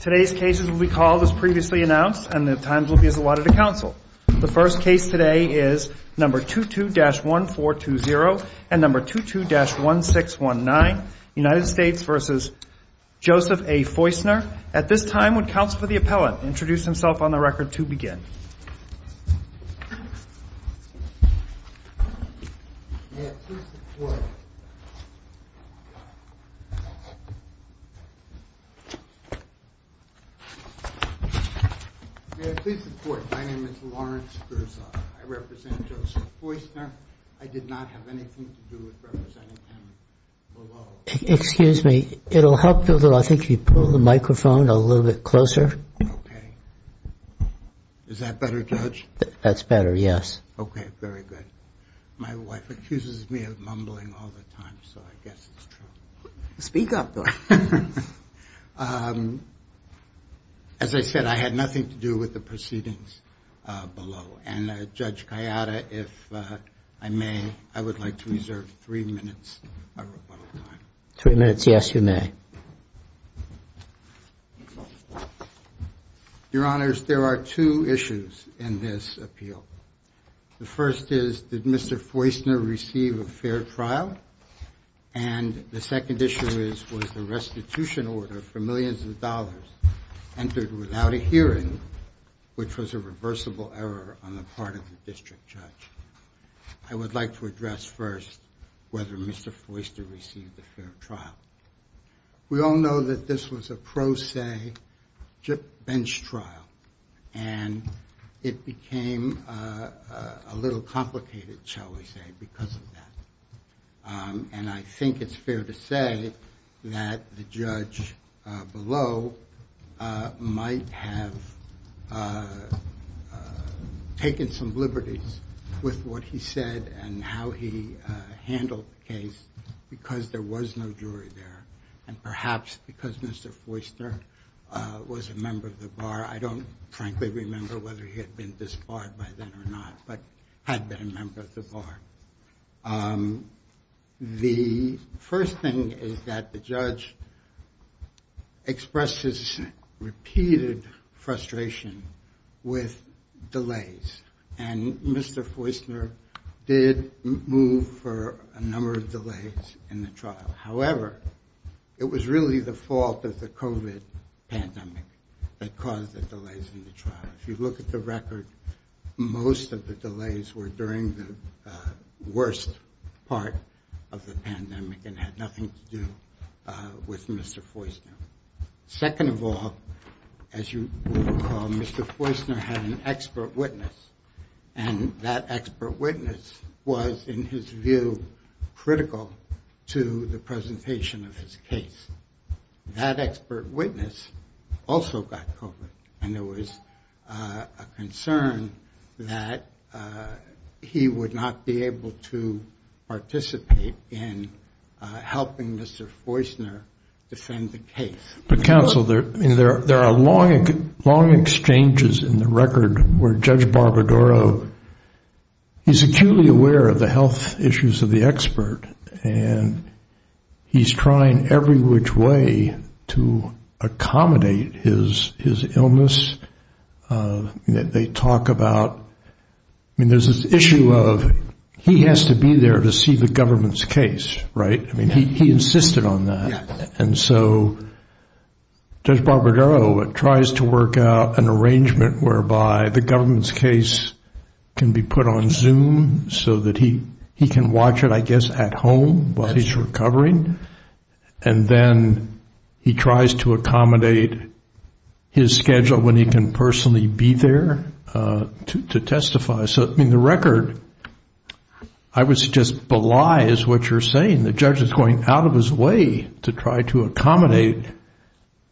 Today's cases will be called as previously announced, and the times will be as allotted to counsel. The first case today is number 22-1420 and number 22-1619, United States v. Joseph A. Foistner. At this time, would counsel for the appellant introduce himself on the record to begin? May I please report, my name is Lawrence Gersoff. I represent Joseph Foistner. I did not have anything to do with representing him below. Excuse me, it'll help if I think you pull the microphone a little bit closer. Okay. Is that better, Judge? That's better, yes. Okay, very good. My wife accuses me of mumbling all the time, so I guess it's true. Speak up, though. As I said, I had nothing to do with the proceedings below. And, Judge Kayada, if I may, I would like to reserve three minutes of rebuttal time. Three minutes, yes, you may. Your Honors, there are two issues in this appeal. The first is, did Mr. Foistner receive a fair trial? And the second issue is, was the restitution order for millions of dollars entered without a hearing, which was a reversible error on the part of the district judge? I would like to address first whether Mr. Foistner received a fair trial. We all know that this was a pro se bench trial. And it became a little complicated, shall we say, because of that. And I think it's fair to say that the judge below might have taken some liberties with what he said and how he handled the case because there was no jury there, and perhaps because Mr. Foistner was a member of the bar. I don't frankly remember whether he had been disbarred by then or not, but had been a member of the bar. The first thing is that the judge expressed his repeated frustration with delays. And Mr. Foistner did move for a number of delays in the trial. However, it was really the fault of the COVID pandemic that caused the delays in the trial. If you look at the record, most of the delays were during the worst part of the pandemic and had nothing to do with Mr. Foistner. Second of all, as you will recall, Mr. Foistner had an expert witness, and that expert witness was, in his view, critical to the presentation of his case. That expert witness also got COVID, and there was a concern that he would not be able to participate in helping Mr. Foistner defend the case. But, counsel, there are long exchanges in the record where Judge Barbadaro is acutely aware of the health issues of the expert, and he's trying every which way to accommodate his illness. They talk about, I mean, there's this issue of he has to be there to see the government's case, right? I mean, he insisted on that. And so Judge Barbadaro tries to work out an arrangement whereby the government's case can be put on Zoom so that he can watch it, I guess, at home while he's recovering. And then he tries to accommodate his schedule when he can personally be there to testify. So, I mean, the record, I would suggest, belies what you're saying. The judge is going out of his way to try to accommodate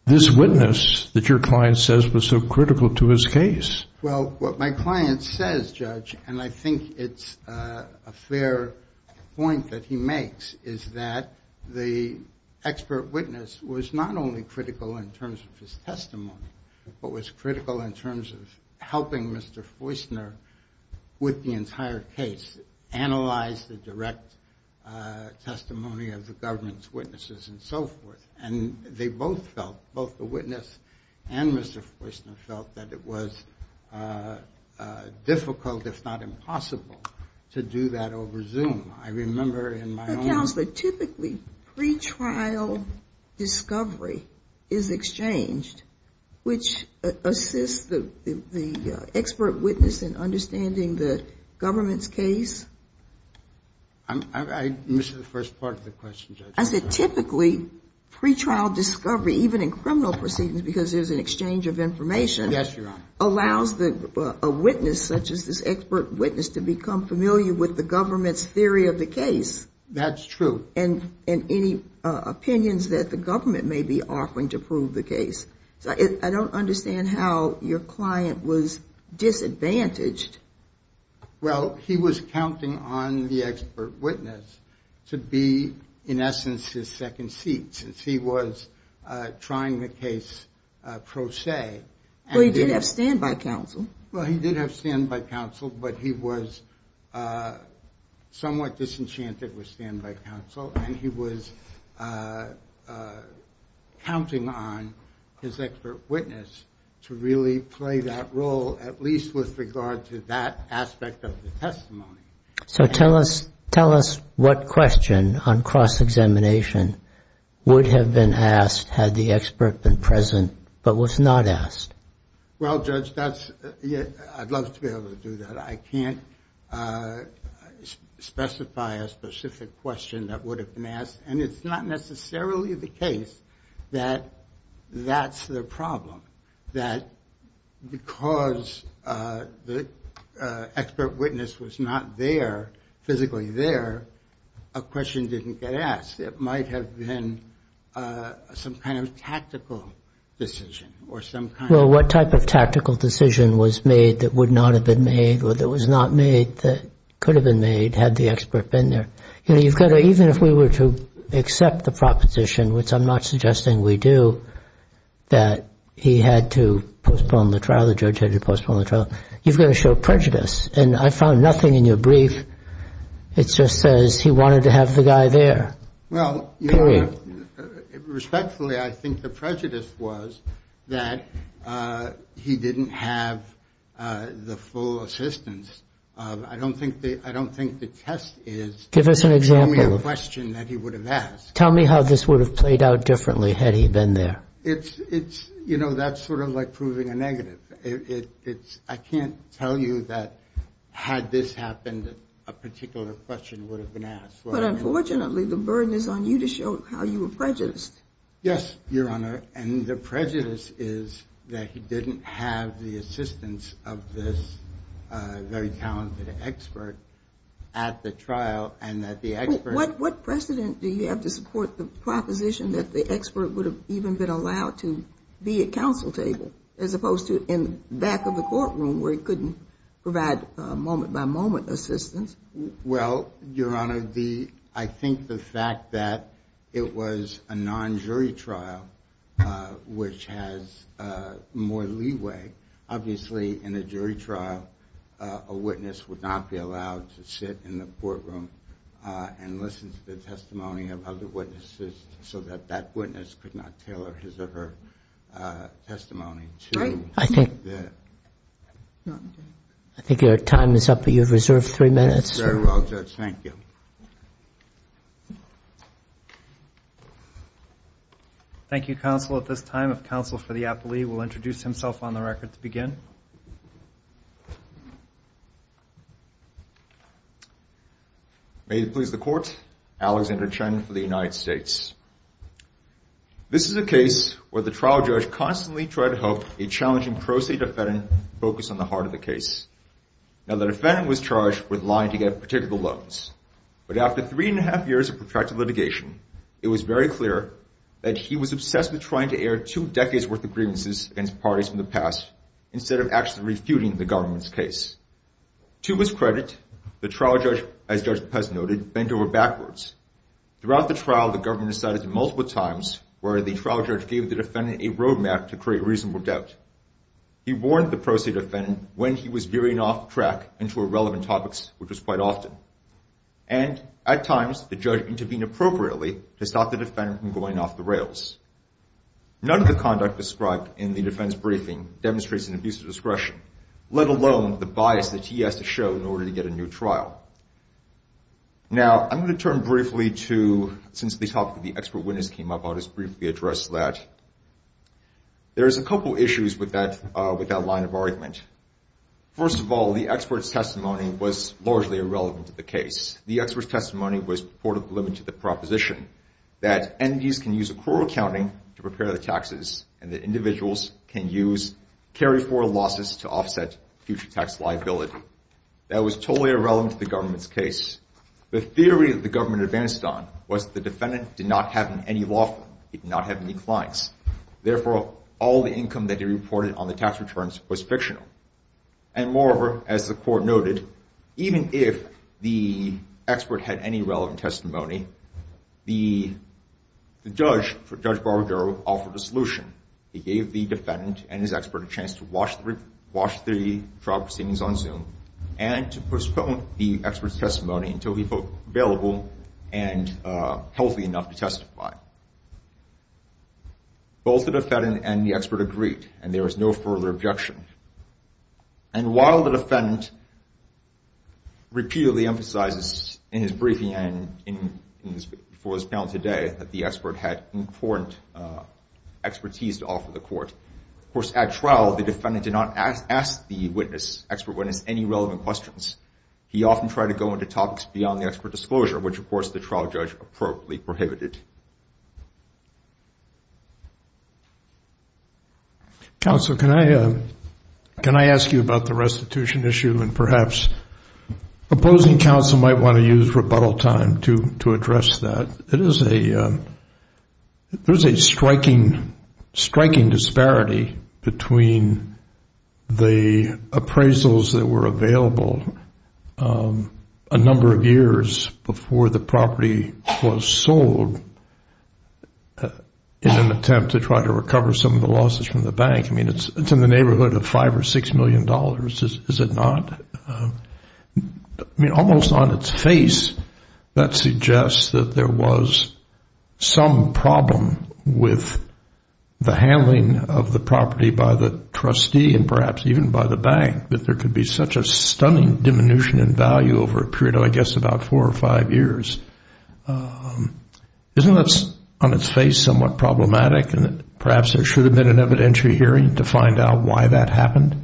this witness that your client says was so critical to his case. Well, what my client says, Judge, and I think it's a fair point that he makes, is that the expert witness was not only critical in terms of his testimony, but was critical in terms of helping Mr. Foistner with the entire case, analyze the direct testimony of the government's witnesses and so forth. And they both felt, both the witness and Mr. Foistner, felt that it was difficult, if not impossible, to do that over Zoom. I remember in my own... But, Counselor, typically pretrial discovery is exchanged, which assists the expert witness in understanding the government's case. I missed the first part of the question, Judge. I said typically pretrial discovery, even in criminal proceedings, because there's an exchange of information... Yes, Your Honor. ...allows a witness, such as this expert witness, to become familiar with the government's theory of the case. That's true. And any opinions that the government may be offering to prove the case. So I don't understand how your client was disadvantaged. Well, he was counting on the expert witness to be, in essence, his second seat, since he was trying the case pro se. Well, he did have standby counsel. Well, he did have standby counsel, but he was somewhat disenchanted with standby counsel, and he was counting on his expert witness to really play that role, at least with regard to that aspect of the testimony. So tell us what question on cross-examination would have been asked had the expert been present but was not asked. Well, Judge, I'd love to be able to do that. I can't specify a specific question that would have been asked, and it's not necessarily the case that that's the problem. That because the expert witness was not physically there, a question didn't get asked. It might have been some kind of tactical decision or some kind of... Well, what type of tactical decision was made that would not have been made or that was not made that could have been made had the expert been there? Even if we were to accept the proposition, which I'm not suggesting we do, that he had to postpone the trial, the judge had to postpone the trial, you've got to show prejudice, and I found nothing in your brief. It just says he wanted to have the guy there, period. Well, respectfully, I think the prejudice was that he didn't have the full assistance. I don't think the test is... Give us an example. Give me a question that he would have asked. Tell me how this would have played out differently had he been there. That's sort of like proving a negative. I can't tell you that had this happened, a particular question would have been asked. But unfortunately, the burden is on you to show how you were prejudiced. Yes, Your Honor, and the prejudice is that he didn't have the assistance of this very talented expert at the trial and that the expert... Do you have to support the proposition that the expert would have even been allowed to be at counsel table as opposed to in the back of the courtroom where he couldn't provide moment-by-moment assistance? Well, Your Honor, I think the fact that it was a non-jury trial, which has more leeway, obviously in a jury trial a witness would not be allowed to sit in the courtroom and listen to the testimony of other witnesses so that that witness could not tailor his or her testimony to the... I think your time is up, but you have reserved three minutes. Very well, Judge, thank you. Thank you, Counsel. At this time, if Counsel for the Appelee will introduce himself on the record to begin. May it please the Court, Alexander Chen for the United States. This is a case where the trial judge constantly tried to help a challenging pro se defendant focus on the heart of the case. Now, the defendant was charged with lying to get particular loans, but after three and a half years of protracted litigation, it was very clear that he was obsessed with trying to air two decades' worth of grievances against parties from the past instead of actually refuting the government's case. To his credit, the trial judge, as Judge Pez noted, bent over backwards. Throughout the trial, the government decided multiple times where the trial judge gave the defendant a roadmap to create reasonable doubt. He warned the pro se defendant when he was veering off track into irrelevant topics, which was quite often, and at times the judge intervened appropriately to stop the defendant from going off the rails. None of the conduct described in the defense briefing demonstrates an abuse of discretion, let alone the bias that he has to show in order to get a new trial. Now, I'm going to turn briefly to, since the topic of the expert witness came up, I'll just briefly address that. There's a couple issues with that line of argument. First of all, the expert's testimony was largely irrelevant to the case. The expert's testimony was port of the limit to the proposition that entities can use accrual accounting to prepare the taxes and that individuals can use carry-forward losses to offset future tax liability. That was totally irrelevant to the government's case. The theory that the government advanced on was that the defendant did not have any law firm. He did not have any clients. Therefore, all the income that he reported on the tax returns was fictional. And moreover, as the court noted, even if the expert had any relevant testimony, the judge, Judge Barbadero, offered a solution. He gave the defendant and his expert a chance to watch the trial proceedings on Zoom and to postpone the expert's testimony until he felt available and healthy enough to testify. Both the defendant and the expert agreed, and there was no further objection. And while the defendant repeatedly emphasizes in his briefing for this panel today that the expert had important expertise to offer the court, of course, at trial, the defendant did not ask the witness, expert witness, any relevant questions. He often tried to go into topics beyond the expert disclosure, which, of course, the trial judge appropriately prohibited. Counsel, can I ask you about the restitution issue? And perhaps opposing counsel might want to use rebuttal time to address that. There's a striking disparity between the appraisals that were available a number of years before the property was sold in an attempt to try to recover some of the losses from the bank. I mean, it's in the neighborhood of $5 or $6 million, is it not? I mean, almost on its face, that suggests that there was some problem with the handling of the property by the trustee and perhaps even by the bank, that there could be such a stunning diminution in value over a period of, I guess, about four or five years. Isn't that, on its face, somewhat problematic and perhaps there should have been an evidentiary hearing to find out why that happened?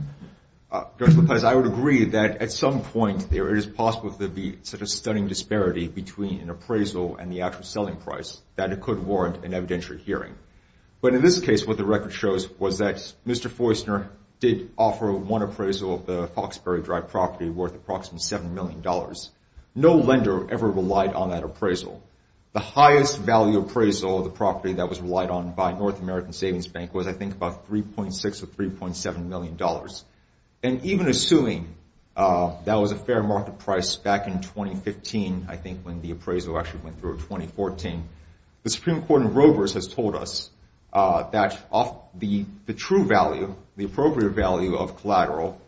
Because I would agree that at some point there is possibly to be such a stunning disparity between an appraisal and the actual selling price that it could warrant an evidentiary hearing. But in this case, what the record shows was that Mr. Feusner did offer one appraisal of the Foxbury Drive property worth approximately $7 million. No lender ever relied on that appraisal. The highest value appraisal of the property that was relied on by North American Savings Bank was, I think, about $3.6 or $3.7 million. And even assuming that was a fair market price back in 2015, I think when the appraisal actually went through in 2014, the Supreme Court in Rovers has told us that the true value, the appropriate value of collateral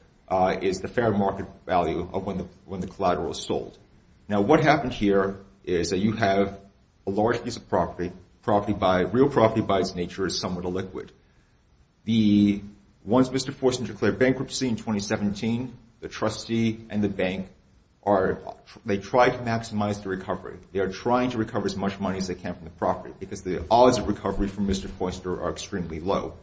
is the fair market value of when the collateral is sold. Now, what happened here is that you have a large piece of property. Real property, by its nature, is somewhat illiquid. Once Mr. Feusner declared bankruptcy in 2017, the trustee and the bank tried to maximize the recovery. They are trying to recover as much money as they can from the property because the odds of recovery from Mr. Feusner are extremely low.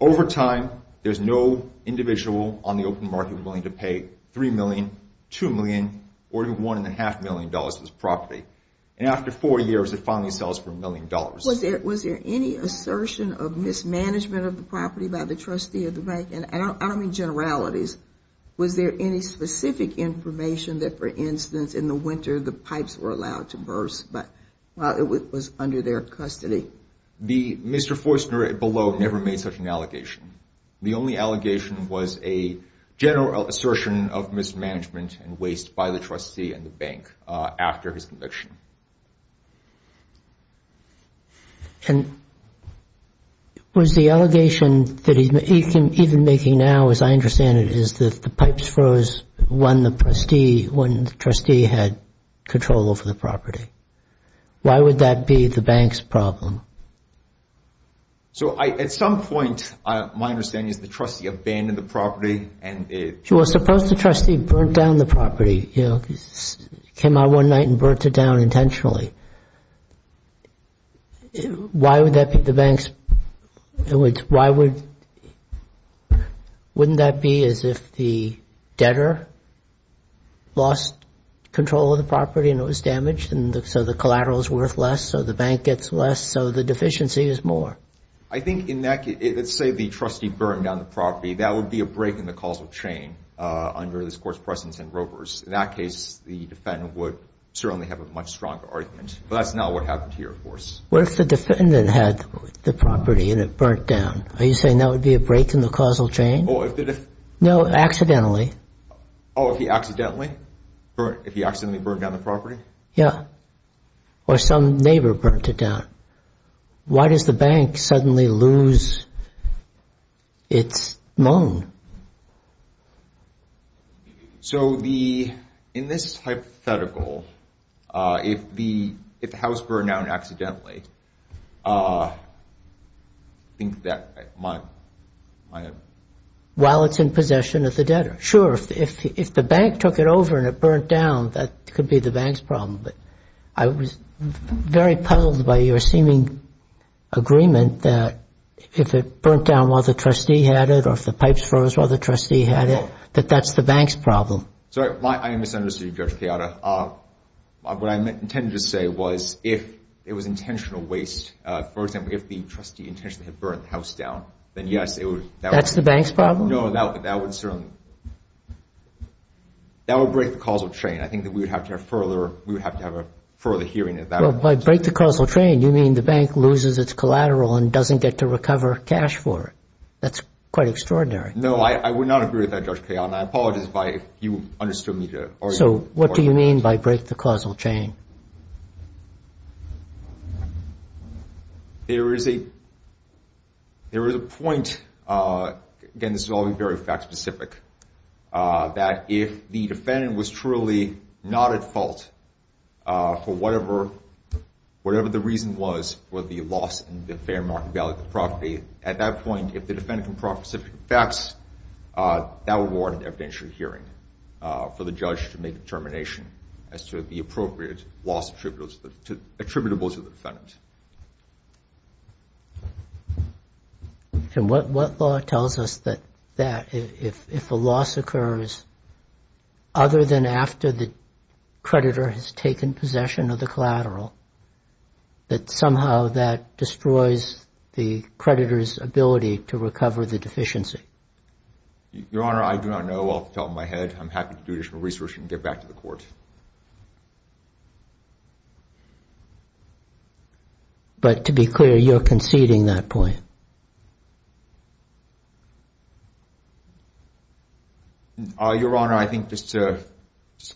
Over time, there's no individual on the open market willing to pay $3 million, $2 million, or even $1.5 million to this property. And after four years, it finally sells for $1 million. Was there any assertion of mismanagement of the property by the trustee or the bank? And I don't mean generalities. Was there any specific information that, for instance, in the winter, the pipes were allowed to burst while it was under their custody? Mr. Feusner below never made such an allegation. The only allegation was a general assertion of mismanagement and waste by the trustee and the bank after his conviction. And was the allegation that he's even making now, as I understand it, is that the pipes froze when the trustee had control over the property? Why would that be the bank's problem? So at some point, my understanding is the trustee abandoned the property and it— Well, suppose the trustee burnt down the property. Came out one night and burnt it down intentionally. Why would that be the bank's— wouldn't that be as if the debtor lost control of the property and it was damaged and so the collateral is worth less, so the bank gets less, so the deficiency is more? I think in that case, let's say the trustee burned down the property, that would be a break in the causal chain under this Court's precedence in Ropers. In that case, the defendant would certainly have a much stronger argument, but that's not what happened here, of course. What if the defendant had the property and it burnt down? Are you saying that would be a break in the causal chain? No, accidentally. Oh, if he accidentally burnt down the property? Yeah. Or some neighbor burnt it down. Why does the bank suddenly lose its moan? So the—in this hypothetical, if the house burned down accidentally, I think that— While it's in possession of the debtor. Sure, if the bank took it over and it burnt down, that could be the bank's problem, but I was very puzzled by your seeming agreement that if it burnt down while the trustee had it or if the pipes froze while the trustee had it, that that's the bank's problem. Sorry, I misunderstood you, Judge Piatta. What I intended to say was if it was intentional waste, for example, if the trustee intentionally had burnt the house down, then yes, it would— That's the bank's problem? No, that would certainly—that would break the causal chain. I think that we would have to have further—we would have to have a further hearing of that. Well, by break the causal chain, you mean the bank loses its collateral and doesn't get to recover cash for it. That's quite extraordinary. No, I would not agree with that, Judge Piatta, and I apologize if you understood me to argue— So what do you mean by break the causal chain? There is a point—again, this is all very fact-specific— not at fault for whatever the reason was for the loss in the fair market value of the property. At that point, if the defendant can provide specific facts, that would warrant an evidentiary hearing for the judge to make a determination as to the appropriate loss attributable to the defendant. And what law tells us that if a loss occurs other than after the creditor has taken possession of the collateral, that somehow that destroys the creditor's ability to recover the deficiency? Your Honor, I do not know off the top of my head. I'm happy to do additional research and get back to the Court. But to be clear, you're conceding that point. Your Honor, I think just to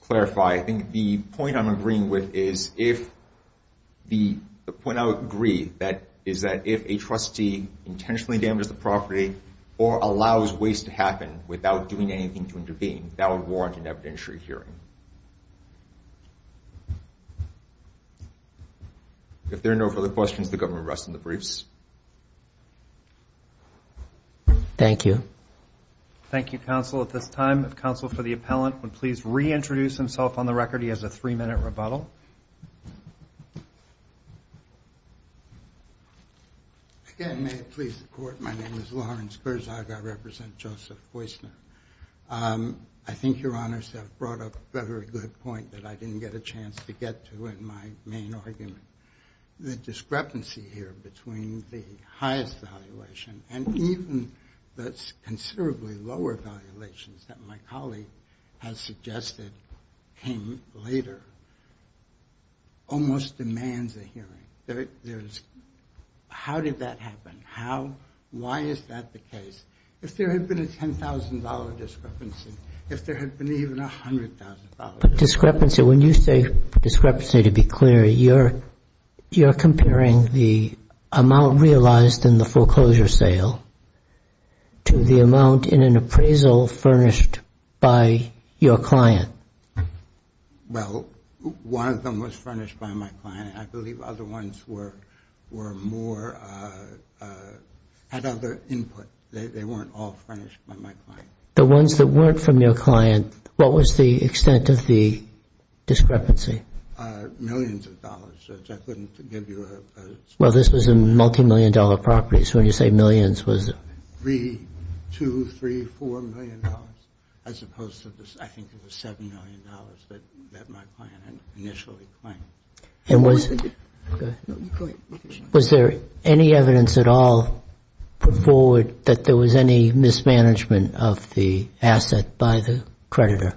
clarify, I think the point I'm agreeing with is if— the point I would agree is that if a trustee intentionally damages the property or allows waste to happen without doing anything to intervene, that would warrant an evidentiary hearing. Thank you. If there are no further questions, the Governor will rest on the briefs. Thank you. Thank you, Counsel. At this time, if Counsel for the Appellant would please reintroduce himself on the record. He has a three-minute rebuttal. Again, may it please the Court, my name is Lawrence Berzaga. I represent Joseph Boisner. I think Your Honors have brought up a very good point that I didn't get a chance to get to in my main argument. The discrepancy here between the highest valuation and even the considerably lower valuations that my colleague has suggested came later almost demands a hearing. How did that happen? Why is that the case? If there had been a $10,000 discrepancy, if there had been even a $100,000 discrepancy. But discrepancy, when you say discrepancy, to be clear, you're comparing the amount realized in the foreclosure sale to the amount in an appraisal furnished by your client. Well, one of them was furnished by my client. I believe other ones were more, had other input. They weren't all furnished by my client. The ones that weren't from your client, what was the extent of the discrepancy? Millions of dollars. I couldn't give you a... Well, this was a multimillion-dollar property, so when you say millions, was it... Three, two, three, four million dollars, as opposed to, I think, the $7 million that my client had initially claimed. And was... Go ahead. Was there any evidence at all put forward that there was any mismanagement of the asset by the creditor?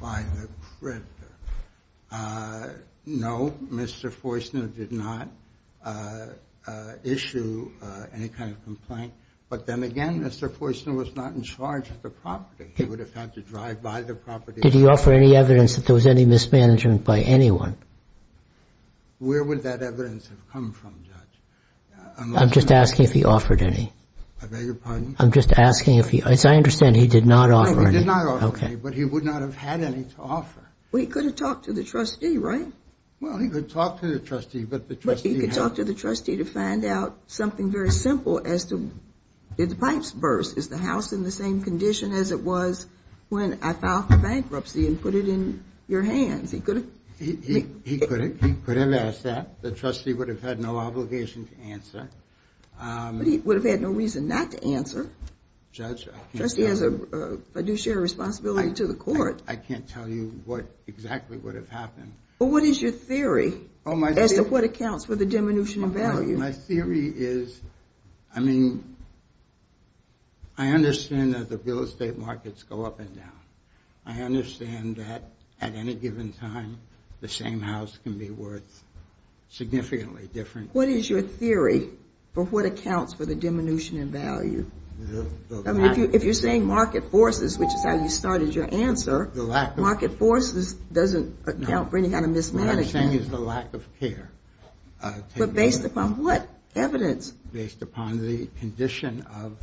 By the creditor. No, Mr. Foistner did not issue any kind of complaint. But then again, Mr. Foistner was not in charge of the property. He would have had to drive by the property... Did he offer any evidence that there was any mismanagement by anyone? Where would that evidence have come from, Judge? I'm just asking if he offered any. I beg your pardon? I'm just asking if he... As I understand, he did not offer any. No, he did not offer any, but he would not have had any to offer. Well, he could have talked to the trustee, right? Well, he could talk to the trustee, but the trustee... But he could talk to the trustee to find out something very simple as to, did the pipes burst? Is the house in the same condition as it was when I filed for bankruptcy and put it in your hands? He could have... He could have asked that. The trustee would have had no obligation to answer. But he would have had no reason not to answer. Judge, I can't tell you... The trustee has a fiduciary responsibility to the court. I can't tell you what exactly would have happened. Well, what is your theory as to what accounts for the diminution in value? My theory is, I mean, I understand that the real estate markets go up and down. I understand that at any given time, the same house can be worth significantly different. What is your theory for what accounts for the diminution in value? If you're saying market forces, which is how you started your answer, market forces doesn't account for any kind of mismanagement. What I'm saying is the lack of care. But based upon what evidence? Based upon the condition of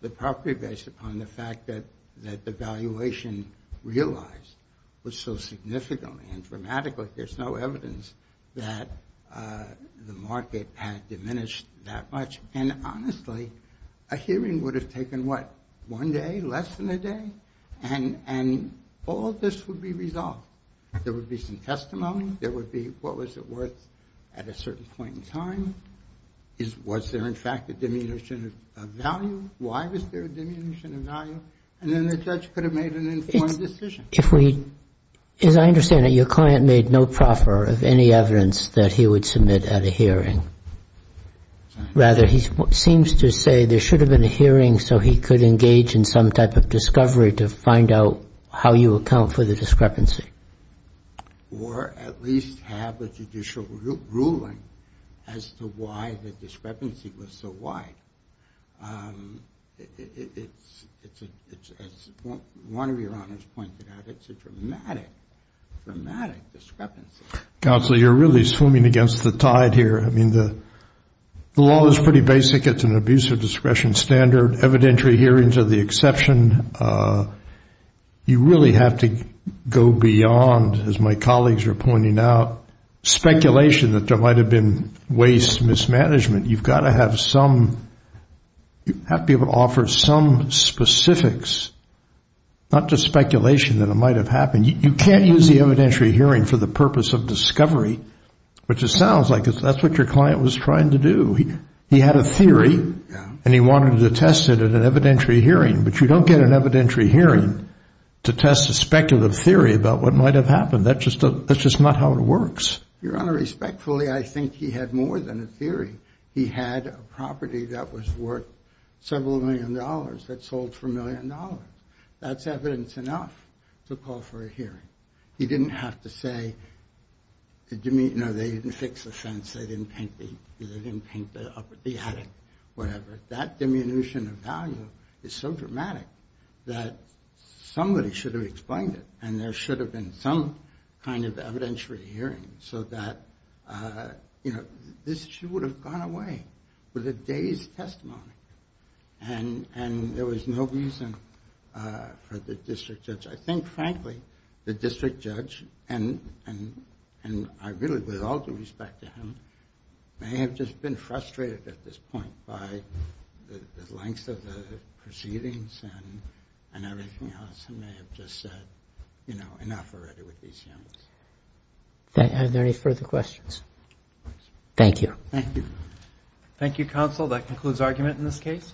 the property, based upon the fact that the valuation realized was so significant and dramatically there's no evidence that the market had diminished that much. And honestly, a hearing would have taken, what, one day, less than a day? And all of this would be resolved. There would be some testimony. There would be what was it worth at a certain point in time. Was there, in fact, a diminution of value? Why was there a diminution of value? And then the judge could have made an informed decision. If we, as I understand it, your client made no proffer of any evidence that he would submit at a hearing. Rather, he seems to say there should have been a hearing so he could engage in some type of discovery to find out how you account for the discrepancy. Or at least have a judicial ruling as to why the discrepancy was so wide. As one of your honors pointed out, it's a dramatic, dramatic discrepancy. Counsel, you're really swimming against the tide here. I mean, the law is pretty basic. It's an abuse of discretion standard. Evidentiary hearings are the exception. You really have to go beyond, as my colleagues are pointing out, speculation that there might have been waste, mismanagement. You've got to have some, you have to be able to offer some specifics, not just speculation that it might have happened. You can't use the evidentiary hearing for the purpose of discovery, which it sounds like that's what your client was trying to do. He had a theory, and he wanted to test it at an evidentiary hearing. But you don't get an evidentiary hearing to test a speculative theory about what might have happened. That's just not how it works. Your Honor, respectfully, I think he had more than a theory. He had a property that was worth several million dollars that sold for a million dollars. That's evidence enough to call for a hearing. He didn't have to say, you know, they didn't fix the fence, they didn't paint the attic, whatever. But that diminution of value is so dramatic that somebody should have explained it, and there should have been some kind of evidentiary hearing so that this issue would have gone away with a day's testimony. And there was no reason for the district judge. I think, frankly, the district judge, and I really, with all due respect to him, may have just been frustrated at this point by the length of the proceedings and everything else and may have just said, you know, enough already with these hearings. Are there any further questions? Thank you. Thank you. Thank you, counsel. That concludes argument in this case.